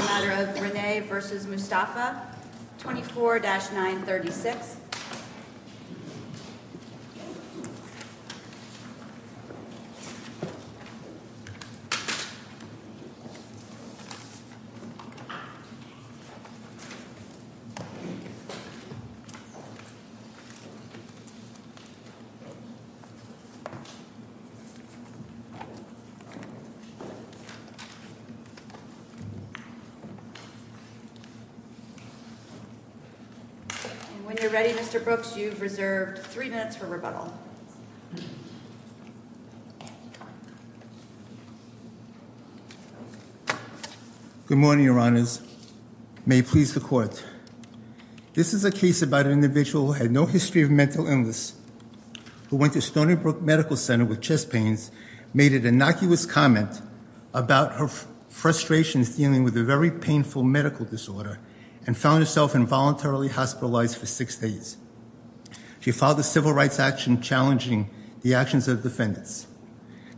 24-936 Good morning, Your Honors. May it please the Court. This is a case about an individual who had no history of mental illness, who went to Stony Brook Medical Center with chest pains, made an innocuous comment about her frustrations dealing with a very poor health condition. She had a very painful medical disorder and found herself involuntarily hospitalized for six days. She filed a civil rights action challenging the actions of defendants.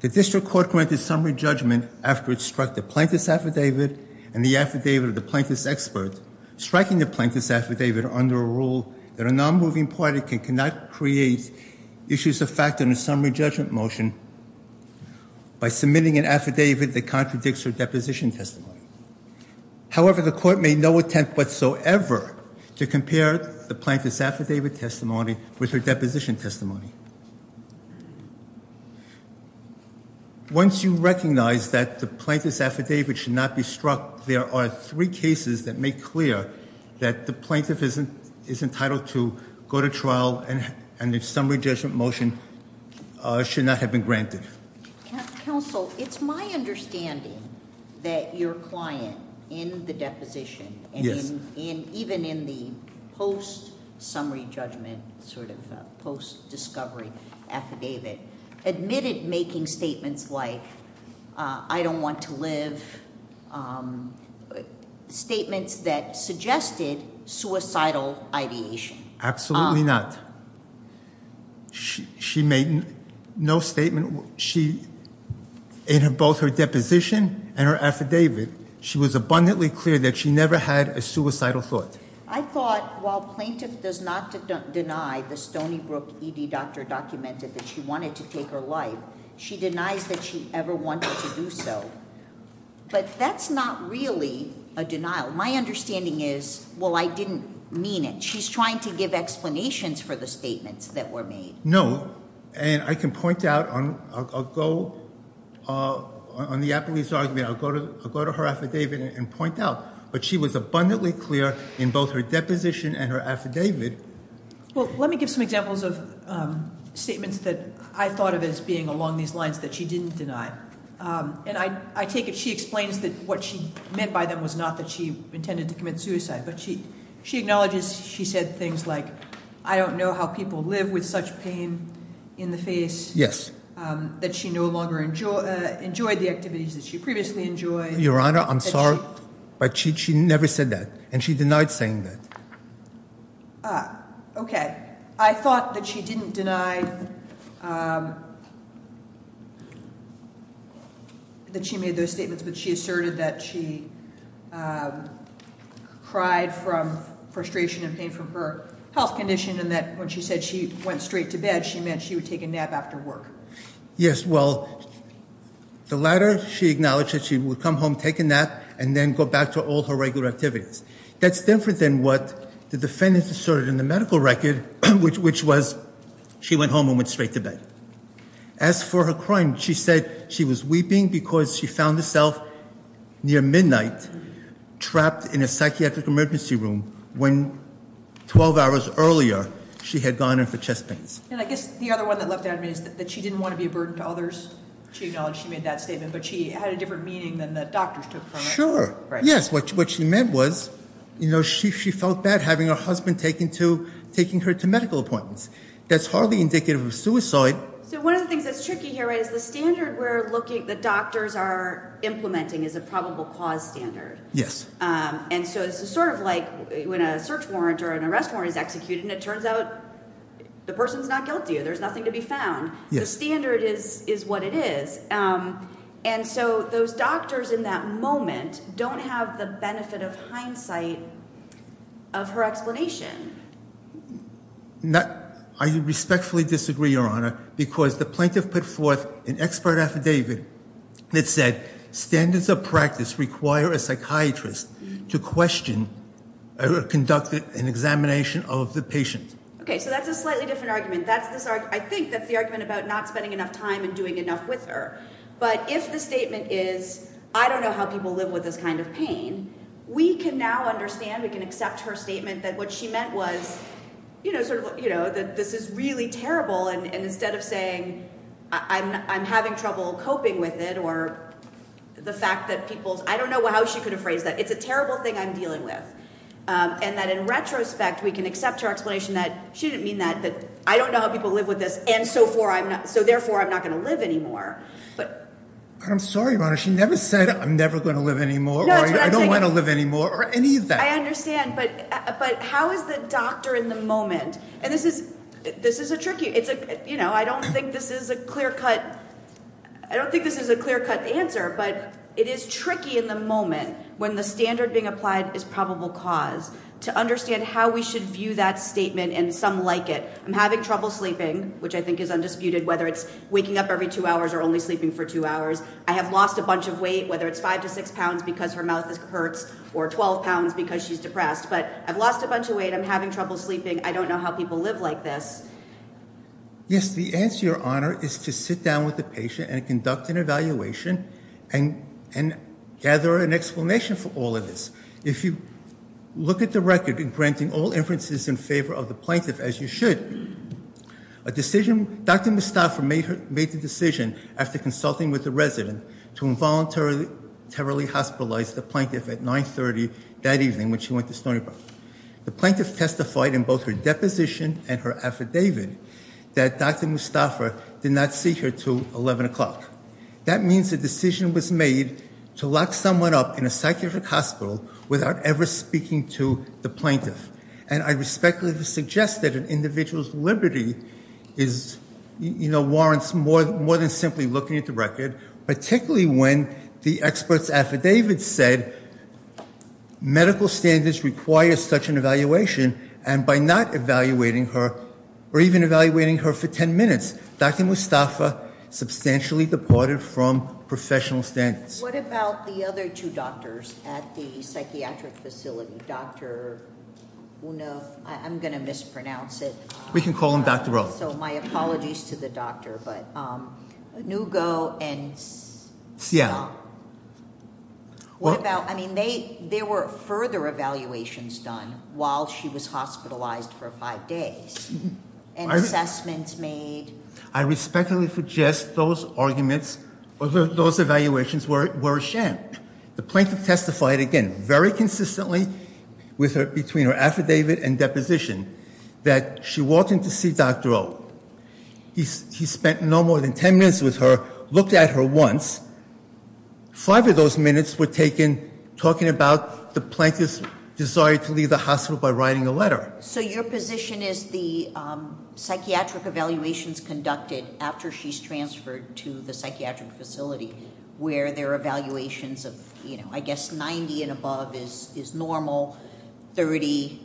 The district court granted summary judgment after it struck the plaintiff's affidavit and the affidavit of the plaintiff's expert, striking the plaintiff's affidavit under a rule that a non-moving party cannot create issues of fact in a summary judgment motion by submitting an affidavit that contradicts her deposition testimony. However, the court made no attempt whatsoever to compare the plaintiff's affidavit testimony with her deposition testimony. Once you recognize that the plaintiff's affidavit should not be struck, there are three cases that make clear that the plaintiff is entitled to go to trial and a summary judgment motion should not have been granted. Counsel, it's my understanding that your client in the deposition, even in the post-summary judgment sort of post-discovery affidavit, admitted making statements like, I don't want to live, statements that suggested suicidal ideation. Absolutely not. She made no statement. In both her deposition and her affidavit, she was abundantly clear that she never had a suicidal thought. I thought, while plaintiff does not deny the Stony Brook ED doctor documented that she wanted to take her life, she denies that she ever wanted to do so. But that's not really a denial. My understanding is, well, I didn't mean it. She's trying to give explanations for the statements that were made. No. And I can point out on the appellee's argument, I'll go to her affidavit and point out, but she was abundantly clear in both her deposition and her affidavit. Well, let me give some examples of statements that I thought of as being along these lines that she didn't deny. And I take it she explains that what she meant by them was not that she intended to commit suicide. But she acknowledges she said things like, I don't know how people live with such pain in the face. That she no longer enjoyed the activities that she previously enjoyed. Your Honor, I'm sorry, but she never said that. And she denied saying that. Okay. I thought that she didn't deny that she made those statements, but she asserted that she cried from frustration and pain from her health condition. And that when she said she went straight to bed, she meant she would take a nap after work. Yes. Well, the latter, she acknowledged that she would come home, take a nap, and then go back to all her regular activities. That's different than what the defendant asserted in the medical record, which was she went home and went straight to bed. As for her crime, she said she was weeping because she found herself near midnight trapped in a psychiatric emergency room when 12 hours earlier she had gone in for chest pains. And I guess the other one that left out of me is that she didn't want to be a burden to others. She acknowledged she made that statement, but she had a different meaning than the doctors took from it. Sure. Right. And, yes, what she meant was she felt bad having her husband taking her to medical appointments. That's hardly indicative of suicide. So one of the things that's tricky here is the standard we're looking – the doctors are implementing is a probable cause standard. Yes. And so it's sort of like when a search warrant or an arrest warrant is executed and it turns out the person is not guilty or there's nothing to be found. The standard is what it is. And so those doctors in that moment don't have the benefit of hindsight of her explanation. I respectfully disagree, Your Honor, because the plaintiff put forth an expert affidavit that said standards of practice require a psychiatrist to question or conduct an examination of the patient. Okay. So that's a slightly different argument. That's this – I think that's the argument about not spending enough time and doing enough with her. But if the statement is, I don't know how people live with this kind of pain, we can now understand, we can accept her statement that what she meant was, you know, sort of, you know, that this is really terrible. And instead of saying I'm having trouble coping with it or the fact that people – I don't know how she could have phrased that. It's a terrible thing I'm dealing with. And that in retrospect, we can accept her explanation that she didn't mean that, that I don't know how people live with this and so therefore I'm not going to live anymore. But – I'm sorry, Your Honor. She never said I'm never going to live anymore or I don't want to live anymore or any of that. I understand. But how is the doctor in the moment – and this is a tricky – you know, I don't think this is a clear-cut – I don't think this is a clear-cut answer. But it is tricky in the moment when the standard being applied is probable cause to understand how we should view that statement and some like it. I'm having trouble sleeping, which I think is undisputed, whether it's waking up every two hours or only sleeping for two hours. I have lost a bunch of weight, whether it's five to six pounds because her mouth hurts or 12 pounds because she's depressed. But I've lost a bunch of weight. I'm having trouble sleeping. I don't know how people live like this. Yes, the answer, Your Honor, is to sit down with the patient and conduct an evaluation and gather an explanation for all of this. If you look at the record in granting all inferences in favor of the plaintiff, as you should, a decision – Dr. Mustafa made the decision after consulting with the resident to involuntarily hospitalize the plaintiff at 9.30 that evening when she went to Stony Brook. The plaintiff testified in both her deposition and her affidavit that Dr. Mustafa did not see her till 11 o'clock. That means a decision was made to lock someone up in a psychiatric hospital without ever speaking to the plaintiff. And I respectfully suggest that an individual's liberty warrants more than simply looking at the record, particularly when the expert's affidavit said medical standards require such an evaluation. And by not evaluating her or even evaluating her for 10 minutes, Dr. Mustafa substantially departed from professional standards. What about the other two doctors at the psychiatric facility, Dr. Uno? I'm going to mispronounce it. We can call him Dr. O. So my apologies to the doctor, but Uno and – What about – I mean, there were further evaluations done while she was hospitalized for five days and assessments made. I respectfully suggest those arguments, those evaluations were a sham. The plaintiff testified, again, very consistently between her affidavit and deposition that she walked in to see Dr. O. He spent no more than ten minutes with her, looked at her once. Five of those minutes were taken talking about the plaintiff's desire to leave the hospital by writing a letter. So your position is the psychiatric evaluations conducted after she's transferred to the psychiatric facility, where there are evaluations of, I guess, 90 and above is normal, 30.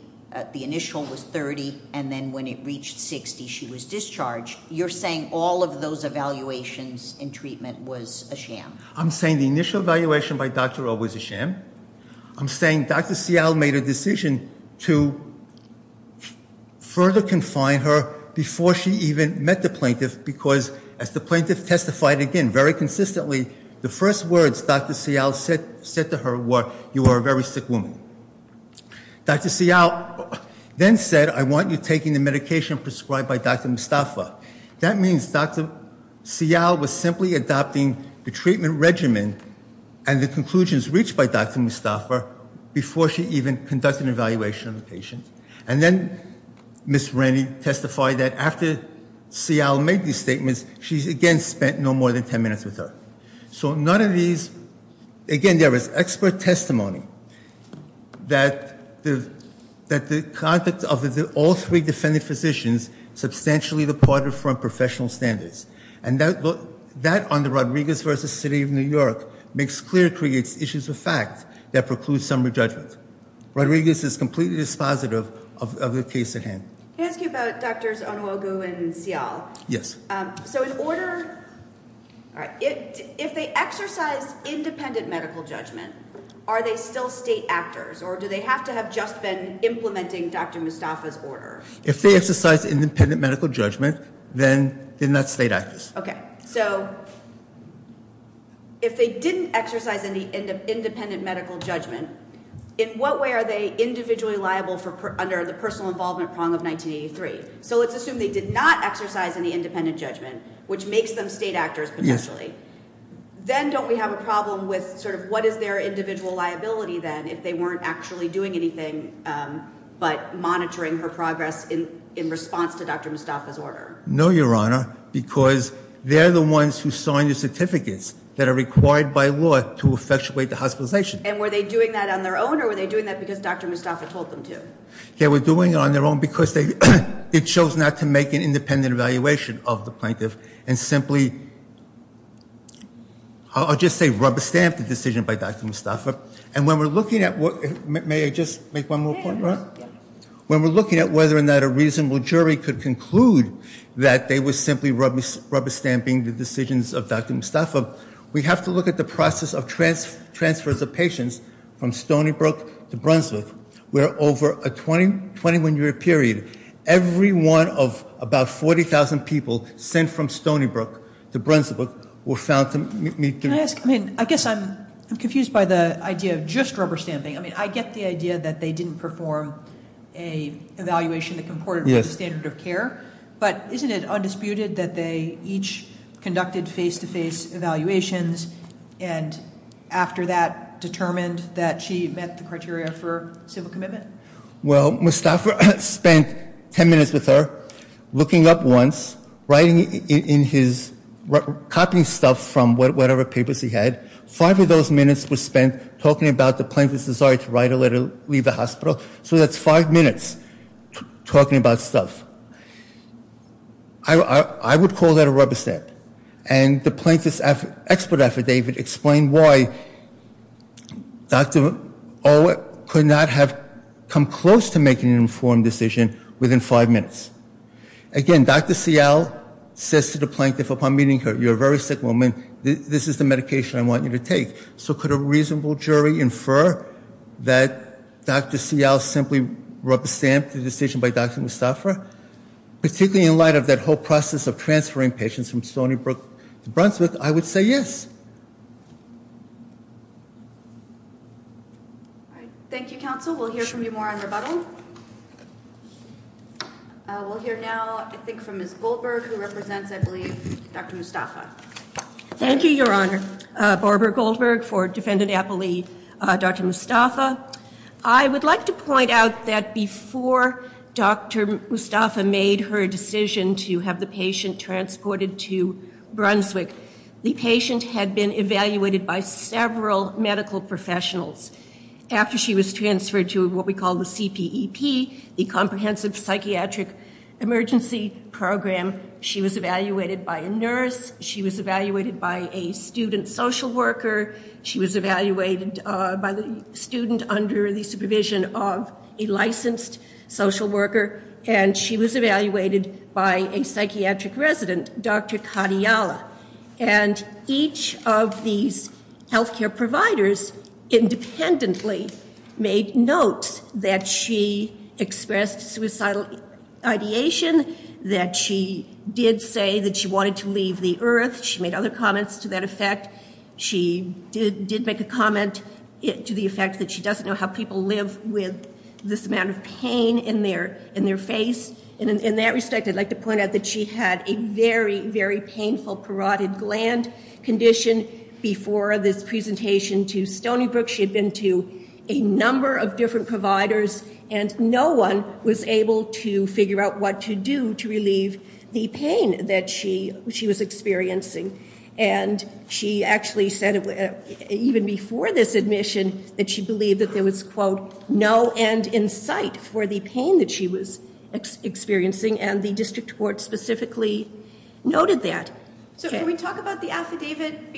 The initial was 30, and then when it reached 60, she was discharged. You're saying all of those evaluations and treatment was a sham? I'm saying the initial evaluation by Dr. O was a sham. I'm saying Dr. Seale made a decision to further confine her before she even met the plaintiff, because as the plaintiff testified, again, very consistently, the first words Dr. Seale said to her were, you are a very sick woman. Dr. Seale then said, I want you taking the medication prescribed by Dr. Mustafa. That means Dr. Seale was simply adopting the treatment regimen and the conclusions reached by Dr. Mustafa before she even conducted an evaluation of the patient. And then Ms. Rennie testified that after Seale made these statements, she again spent no more than ten minutes with her. So none of these, again, there was expert testimony that the conduct of all three defendant physicians substantially departed from professional standards. And that under Rodriguez v. City of New York makes clear, creates issues of fact that precludes summary judgment. Rodriguez is completely dispositive of the case at hand. Can I ask you about Drs. Onoogoo and Seale? Yes. So in order, if they exercise independent medical judgment, are they still state actors, or do they have to have just been implementing Dr. Mustafa's order? If they exercise independent medical judgment, then they're not state actors. Okay. So if they didn't exercise any independent medical judgment, in what way are they individually liable under the personal involvement prong of 1983? So let's assume they did not exercise any independent judgment, which makes them state actors potentially. Then don't we have a problem with sort of what is their individual liability then if they weren't actually doing anything but monitoring her progress in response to Dr. Mustafa's order? No, Your Honor, because they're the ones who signed the certificates that are required by law to effectuate the hospitalization. And were they doing that on their own, or were they doing that because Dr. Mustafa told them to? They were doing it on their own because they chose not to make an independent evaluation of the plaintiff and simply, I'll just say rubber-stamped the decision by Dr. Mustafa. And when we're looking at whether or not a reasonable jury could conclude that they were simply rubber-stamping the decisions of Dr. Mustafa, we have to look at the process of transfers of patients from Stony Brook to Brunswick, where over a 21-year period, every one of about 40,000 people sent from Stony Brook to Brunswick were found to meet the requirements. Can I ask, I mean, I guess I'm confused by the idea of just rubber-stamping. I mean, I get the idea that they didn't perform an evaluation that comported with the standard of care, but isn't it undisputed that they each conducted face-to-face evaluations and after that determined that she met the criteria for civil commitment? Well, Mustafa spent 10 minutes with her, looking up once, writing in his, copying stuff from whatever papers he had. Five of those minutes were spent talking about the plaintiff's desire to write a letter, leave the hospital. So that's five minutes talking about stuff. I would call that a rubber-stamp. And the plaintiff's expert affidavit explained why Dr. O could not have come close to making an informed decision within five minutes. Again, Dr. Seale says to the plaintiff upon meeting her, you're a very sick woman, this is the medication I want you to take. So could a reasonable jury infer that Dr. Seale simply rubber-stamped the decision by Dr. Mustafa? Particularly in light of that whole process of transferring patients from Stony Brook to Brunswick, I would say yes. Thank you, counsel. We'll hear from you more on rebuttal. We'll hear now, I think, from Ms. Goldberg, who represents, I believe, Dr. Mustafa. Thank you, Your Honor. Barbara Goldberg for defendant appellee Dr. Mustafa. I would like to point out that before Dr. Mustafa made her decision to have the patient transported to Brunswick, the patient had been evaluated by several medical professionals. After she was transferred to what we call the CPEP, the Comprehensive Psychiatric Emergency Program, she was evaluated by a nurse, she was evaluated by a student social worker, she was evaluated by the student under the supervision of a licensed social worker, and she was evaluated by a psychiatric resident, Dr. Kadiala. And each of these health care providers independently made notes that she expressed suicidal ideation, that she did say that she wanted to leave the earth. She made other comments to that effect. She did make a comment to the effect that she doesn't know how people live with this amount of pain in their face. And in that respect, I'd like to point out that she had a very, very painful parotid gland condition before this presentation to Stony Brook. She had been to a number of different providers, and no one was able to figure out what to do to relieve the pain that she was experiencing. And she actually said, even before this admission, that she believed that there was, quote, no end in sight for the pain that she was experiencing, and the district court specifically noted that. So can we talk about the affidavit?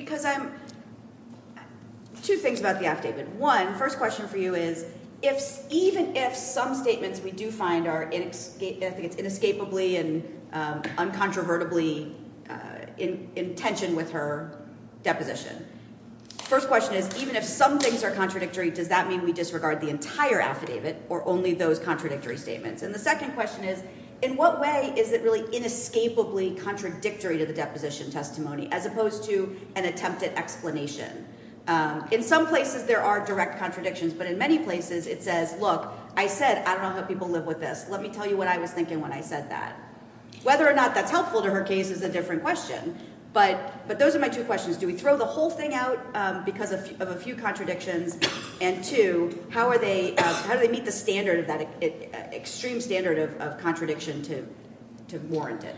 Two things about the affidavit. One, first question for you is, even if some statements we do find are inescapably and uncontrovertibly in tension with her deposition, first question is, even if some things are contradictory, does that mean we disregard the entire affidavit or only those contradictory statements? And the second question is, in what way is it really inescapably contradictory to the deposition testimony as opposed to an attempted explanation? In some places there are direct contradictions, but in many places it says, look, I said I don't know how people live with this. Let me tell you what I was thinking when I said that. Whether or not that's helpful to her case is a different question, but those are my two questions. Do we throw the whole thing out because of a few contradictions? And two, how do they meet the standard of that extreme standard of contradiction to warrant it?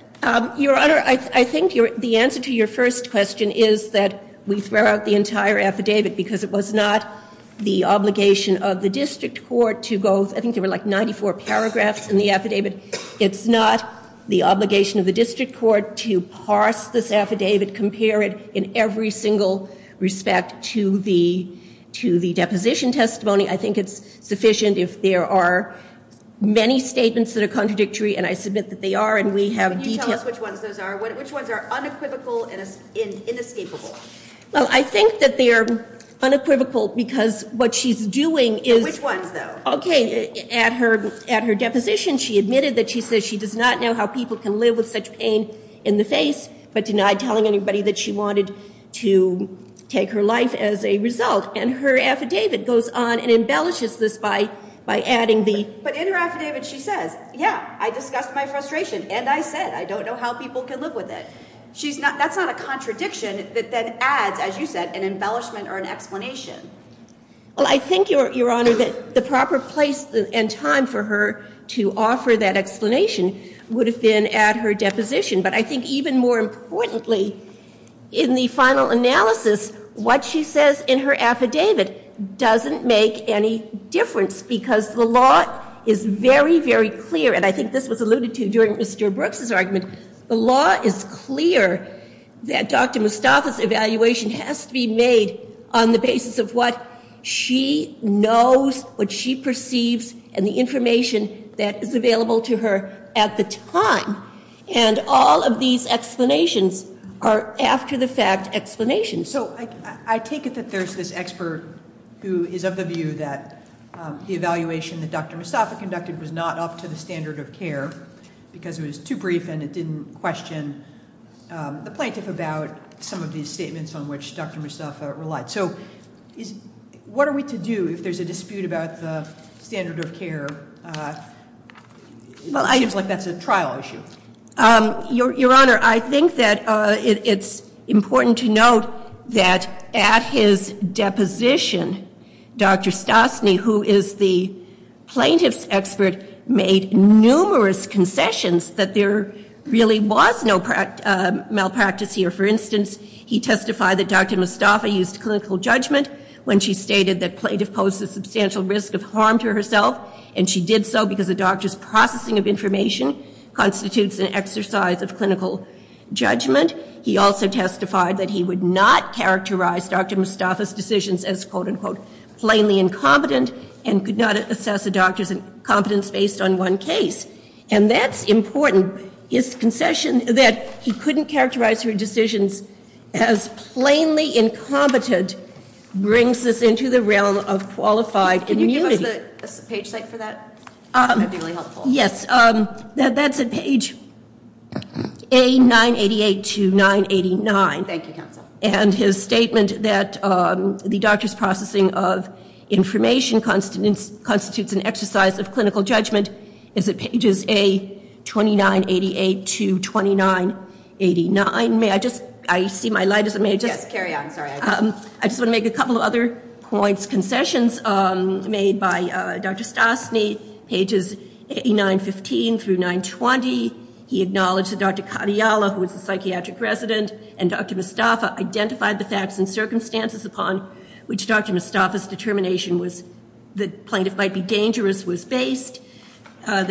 Your Honor, I think the answer to your first question is that we throw out the entire affidavit because it was not the obligation of the district court to go, I think there were like 94 paragraphs in the affidavit. It's not the obligation of the district court to parse this affidavit, compare it in every single respect to the deposition testimony. I think it's sufficient if there are many statements that are contradictory, and I submit that they are, and we have details. Can you tell us which ones those are? Which ones are unequivocal and inescapable? Well, I think that they are unequivocal because what she's doing is at her deposition she admitted that she says she does not know how people can live with such pain in the face, but denied telling anybody that she wanted to take her life as a result, and her affidavit goes on and embellishes this by adding the But in her affidavit she says, yeah, I discussed my frustration, and I said I don't know how people can live with it. That's not a contradiction that adds, as you said, an embellishment or an explanation. Well, I think, Your Honor, that the proper place and time for her to offer that explanation would have been at her deposition, but I think even more importantly, in the final analysis, what she says in her affidavit doesn't make any difference because the law is very, very clear, and I think this was alluded to during Mr. Brooks' argument. The law is clear that Dr. Mustafa's evaluation has to be made on the basis of what she knows, what she perceives, and the information that is available to her at the time, and all of these explanations are after-the-fact explanations. So I take it that there's this expert who is of the view that the evaluation that Dr. Mustafa conducted was not up to the standard of care because it was too brief and it didn't question the plaintiff about some of these statements on which Dr. Mustafa relied. So what are we to do if there's a dispute about the standard of care? It seems like that's a trial issue. Your Honor, I think that it's important to note that at his deposition, Dr. Stosny, who is the plaintiff's expert, made numerous concessions that there really was no malpractice here. For instance, he testified that Dr. Mustafa used clinical judgment when she stated that plaintiff posed a substantial risk of harm to herself, and she did so because a doctor's processing of information constitutes an exercise of clinical judgment. He also testified that he would not characterize Dr. Mustafa's decisions as, quote-unquote, plainly incompetent and could not assess a doctor's incompetence based on one case. And that's important. His concession that he couldn't characterize her decisions as plainly incompetent brings us into the realm of qualified immunity. Can you give us the page site for that? That would be really helpful. Yes. That's at page A988 to 989. Thank you, counsel. And his statement that the doctor's processing of information constitutes an exercise of clinical judgment is at pages A2988 to 2989. May I just – I see my light is – may I just – Yes. Carry on. Sorry. I just want to make a couple of other points, concessions made by Dr. Stosny, pages 8915 through 920. He acknowledged that Dr. Kadiala, who was the psychiatric resident, and Dr. Mustafa identified the facts and circumstances upon which Dr. Mustafa's determination was – that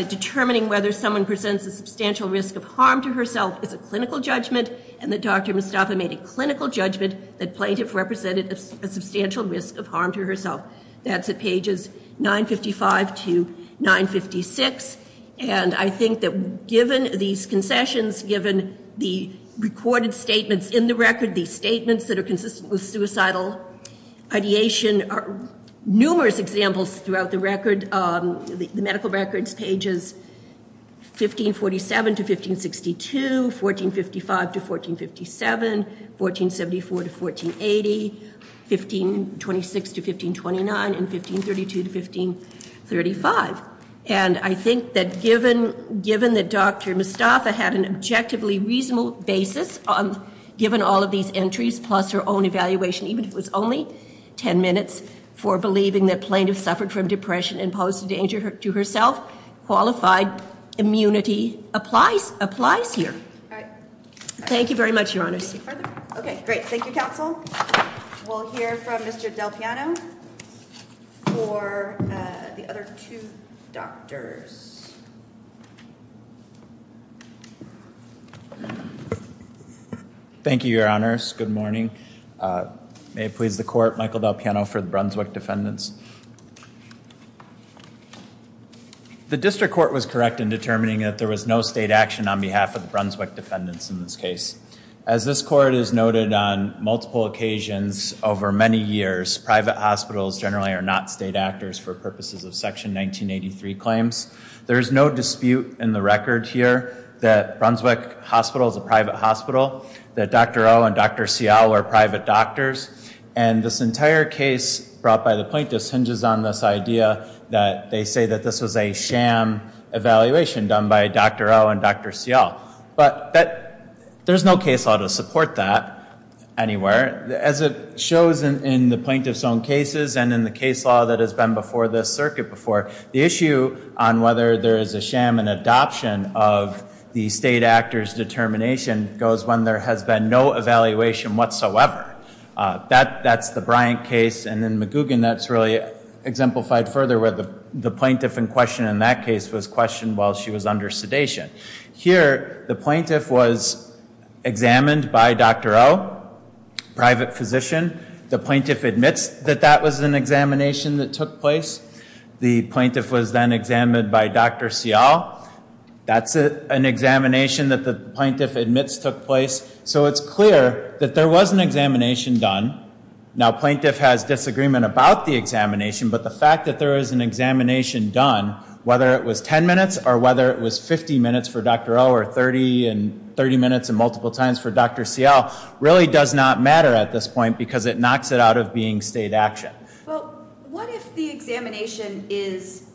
determining whether someone presents a substantial risk of harm to herself is a clinical judgment and that Dr. Mustafa made a clinical judgment that plaintiff represented a substantial risk of harm to herself. That's at pages 955 to 956. And I think that given these concessions, given the recorded statements in the record, these statements that are consistent with suicidal ideation, numerous examples throughout the record, the medical records pages 1547 to 1562, 1455 to 1457, 1474 to 1480, 1526 to 1529, and 1532 to 1535. And I think that given that Dr. Mustafa had an objectively reasonable basis, given all of these entries plus her own evaluation, even if it was only ten minutes, for believing that plaintiff suffered from depression and posed a danger to herself, qualified immunity applies here. Thank you very much, Your Honors. Okay, great. Thank you, Counsel. We'll hear from Mr. Del Piano for the other two doctors. Thank you, Your Honors. Good morning. May it please the Court, Michael Del Piano for the Brunswick defendants. The District Court was correct in determining that there was no state action on behalf of the Brunswick defendants in this case. As this Court has noted on multiple occasions over many years, private hospitals generally are not state actors for purposes of Section 1983 claims. There is no dispute in the record here that Brunswick Hospital is a private hospital, that Dr. O and Dr. Cial were private doctors, and this entire case brought by the plaintiffs hinges on this idea that they say that this was a sham evaluation done by Dr. O and Dr. Cial. But there's no case law to support that anywhere. As it shows in the plaintiff's own cases and in the case law that has been before this circuit before, the issue on whether there is a sham and adoption of the state actor's determination goes when there has been no evaluation whatsoever. That's the Bryant case, and in McGugin, that's really exemplified further where the plaintiff in question in that case was questioned while she was under sedation. Here, the plaintiff was examined by Dr. O, private physician. The plaintiff admits that that was an examination that took place. The plaintiff was then examined by Dr. Cial. That's an examination that the plaintiff admits took place. So it's clear that there was an examination done. Now, plaintiff has disagreement about the examination, but the fact that there was an examination done, whether it was 10 minutes or whether it was 50 minutes for Dr. O or 30 minutes and multiple times for Dr. Cial, really does not matter at this point because it knocks it out of being state action. Well, what if the examination is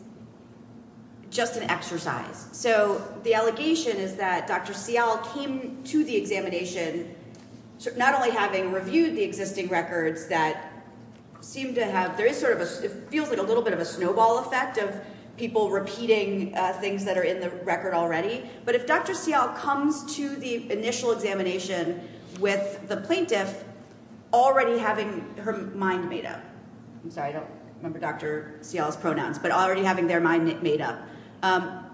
just an exercise? So the allegation is that Dr. Cial came to the examination not only having reviewed the existing records that seem to have, it feels like a little bit of a snowball effect of people repeating things that are in the record already, but if Dr. Cial comes to the initial examination with the plaintiff already having her mind made up, I'm sorry, I don't remember Dr. Cial's pronouns, but already having their mind made up,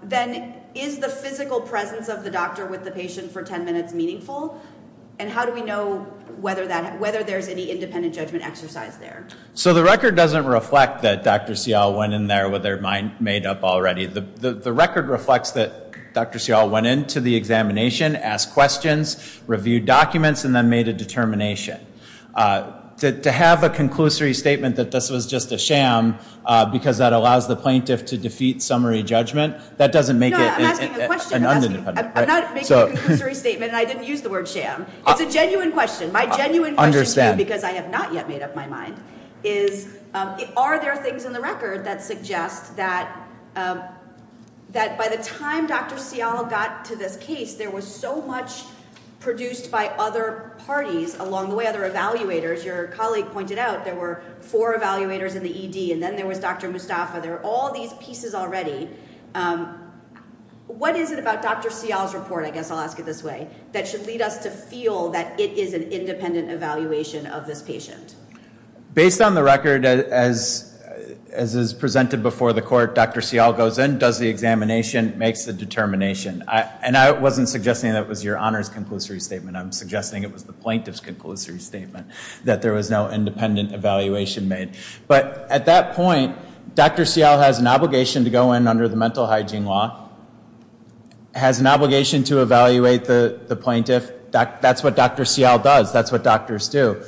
then is the physical presence of the doctor with the patient for 10 minutes meaningful? And how do we know whether there's any independent judgment exercise there? So the record doesn't reflect that Dr. Cial went in there with her mind made up already. The record reflects that Dr. Cial went into the examination, asked questions, reviewed documents, and then made a determination. To have a conclusory statement that this was just a sham because that allows the plaintiff to defeat summary judgment, that doesn't make it an undependent. I'm not making a conclusory statement and I didn't use the word sham. It's a genuine question. My genuine question to you, because I have not yet made up my mind, is are there things in the record that suggest that by the time Dr. Cial got to this case, there was so much produced by other parties along the way, other evaluators. Your colleague pointed out there were four evaluators in the ED and then there was Dr. Mustafa. There were all these pieces already. What is it about Dr. Cial's report, I guess I'll ask it this way, that should lead us to feel that it is an independent evaluation of this patient? Based on the record, as is presented before the court, Dr. Cial goes in, does the examination, makes the determination. And I wasn't suggesting that was your honor's conclusory statement. I'm suggesting it was the plaintiff's conclusory statement that there was no independent evaluation made. But at that point, Dr. Cial has an obligation to go in under the mental hygiene law, has an obligation to evaluate the plaintiff. That's what Dr. Cial does. That's what doctors do.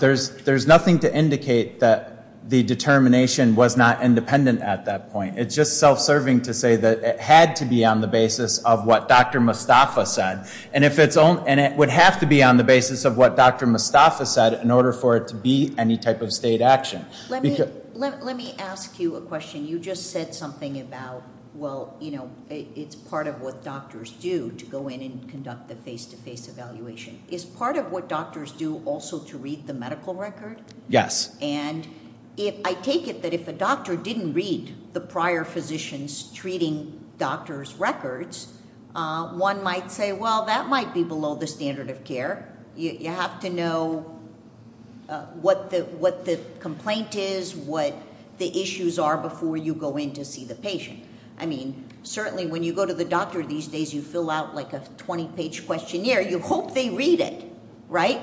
There's nothing to indicate that the determination was not independent at that point. It's just self-serving to say that it had to be on the basis of what Dr. Mustafa said. And it would have to be on the basis of what Dr. Mustafa said in order for it to be any type of state action. Let me ask you a question. You just said something about, well, it's part of what doctors do to go in and conduct the face-to-face evaluation. Is part of what doctors do also to read the medical record? Yes. And I take it that if a doctor didn't read the prior physician's treating doctor's records, one might say, well, that might be below the standard of care. You have to know what the complaint is, what the issues are before you go in to see the patient. I mean, certainly when you go to the doctor these days, you fill out like a 20-page questionnaire. You hope they read it, right,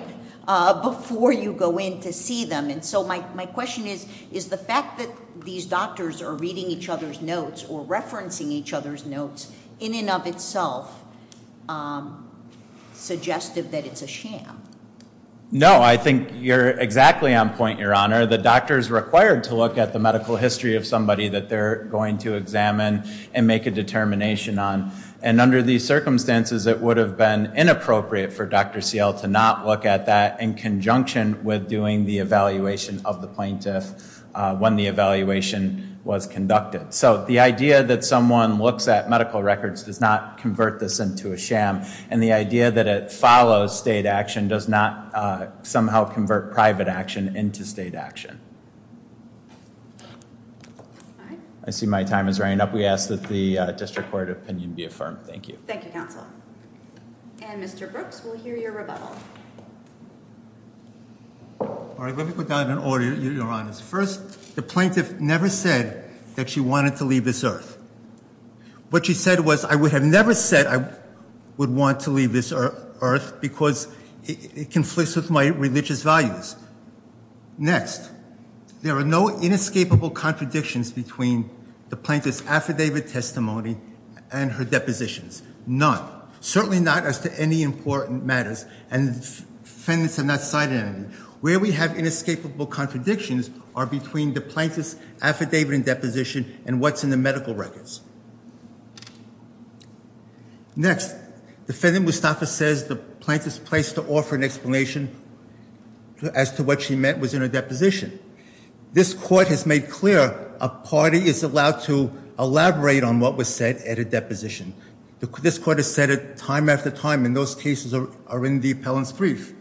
before you go in to see them. And so my question is, is the fact that these doctors are reading each other's notes or referencing each other's notes in and of itself suggestive that it's a sham? No, I think you're exactly on point, Your Honor. The doctor is required to look at the medical history of somebody that they're going to examine and make a determination on. And under these circumstances, it would have been inappropriate for Dr. Seale to not look at that in conjunction with doing the evaluation of the plaintiff when the evaluation was conducted. So the idea that someone looks at medical records does not convert this into a sham. And the idea that it follows state action does not somehow convert private action into state action. I see my time is running up. We ask that the district court opinion be affirmed. Thank you. Thank you, counsel. And Mr. Brooks will hear your rebuttal. All right, let me go down in order, Your Honor. First, the plaintiff never said that she wanted to leave this earth. What she said was, I would have never said I would want to leave this earth because it conflicts with my religious values. Next, there are no inescapable contradictions between the plaintiff's affidavit testimony and her depositions. None. Certainly not as to any important matters, and defendants have not cited any. Where we have inescapable contradictions are between the plaintiff's affidavit and deposition and what's in the medical records. Next, Defendant Mustafa says the plaintiff's place to offer an explanation as to what she meant was in her deposition. This court has made clear a party is allowed to elaborate on what was said at a deposition. This court has said it time after time, and those cases are in the appellant's brief.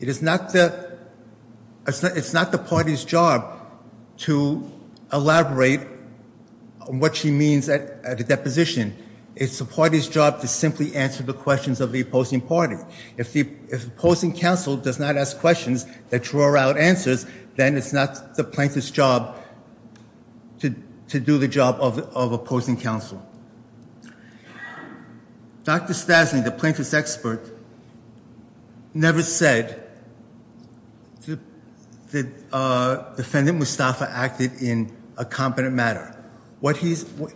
It is not the party's job to elaborate on what she means at a deposition. It's the party's job to simply answer the questions of the opposing party. If the opposing counsel does not ask questions that draw out answers, then it's not the plaintiff's job to do the job of opposing counsel. Dr. Stasny, the plaintiff's expert, never said that Defendant Mustafa acted in a competent manner.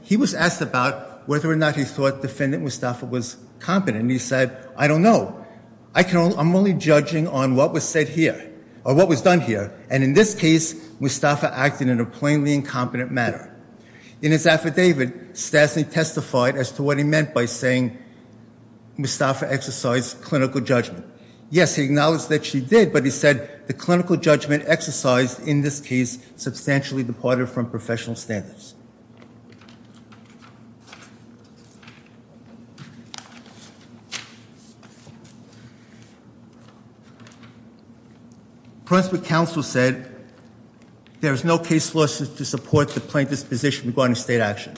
He was asked about whether or not he thought Defendant Mustafa was competent, and he said, I don't know. I'm only judging on what was said here, or what was done here. And in this case, Mustafa acted in a plainly incompetent manner. In his affidavit, Stasny testified as to what he meant by saying Mustafa exercised clinical judgment. Yes, he acknowledged that she did, but he said the clinical judgment exercised in this case substantially departed from professional standards. Principal counsel said there is no case law to support the plaintiff's position regarding state action.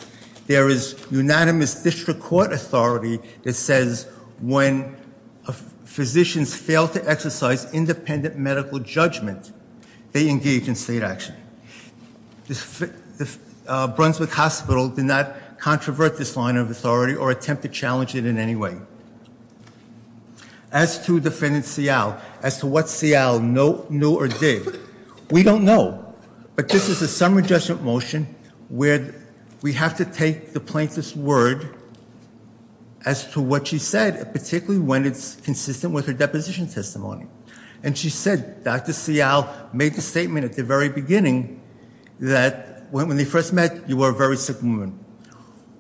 There is unanimous district court authority that says when physicians fail to exercise independent medical judgment, they engage in state action. The Brunswick Hospital did not controvert this line of authority or attempt to challenge it in any way. As to Defendant Seau, as to what Seau knew or did, we don't know. But this is a summary judgment motion where we have to take the plaintiff's word as to what she said, particularly when it's consistent with her deposition testimony. And she said, Dr. Seau made the statement at the very beginning that when they first met, you were a very sick woman.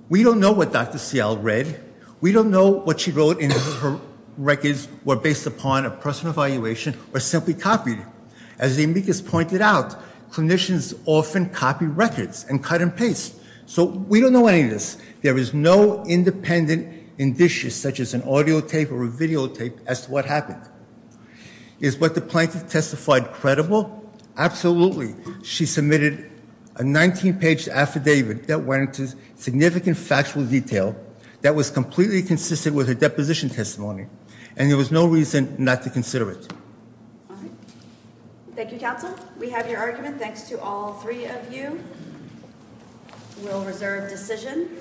We don't know what Dr. Seau read. We don't know what she wrote in her records were based upon a personal evaluation or simply copied. As the amicus pointed out, clinicians often copy records and cut and paste. So we don't know any of this. There is no independent indicious such as an audio tape or a videotape as to what happened. Is what the plaintiff testified credible? Absolutely. She submitted a 19-page affidavit that went into significant factual detail that was completely consistent with her deposition testimony. And there was no reason not to consider it. Thank you, Counsel. We have your argument. Thanks to all three of you. We'll reserve decision.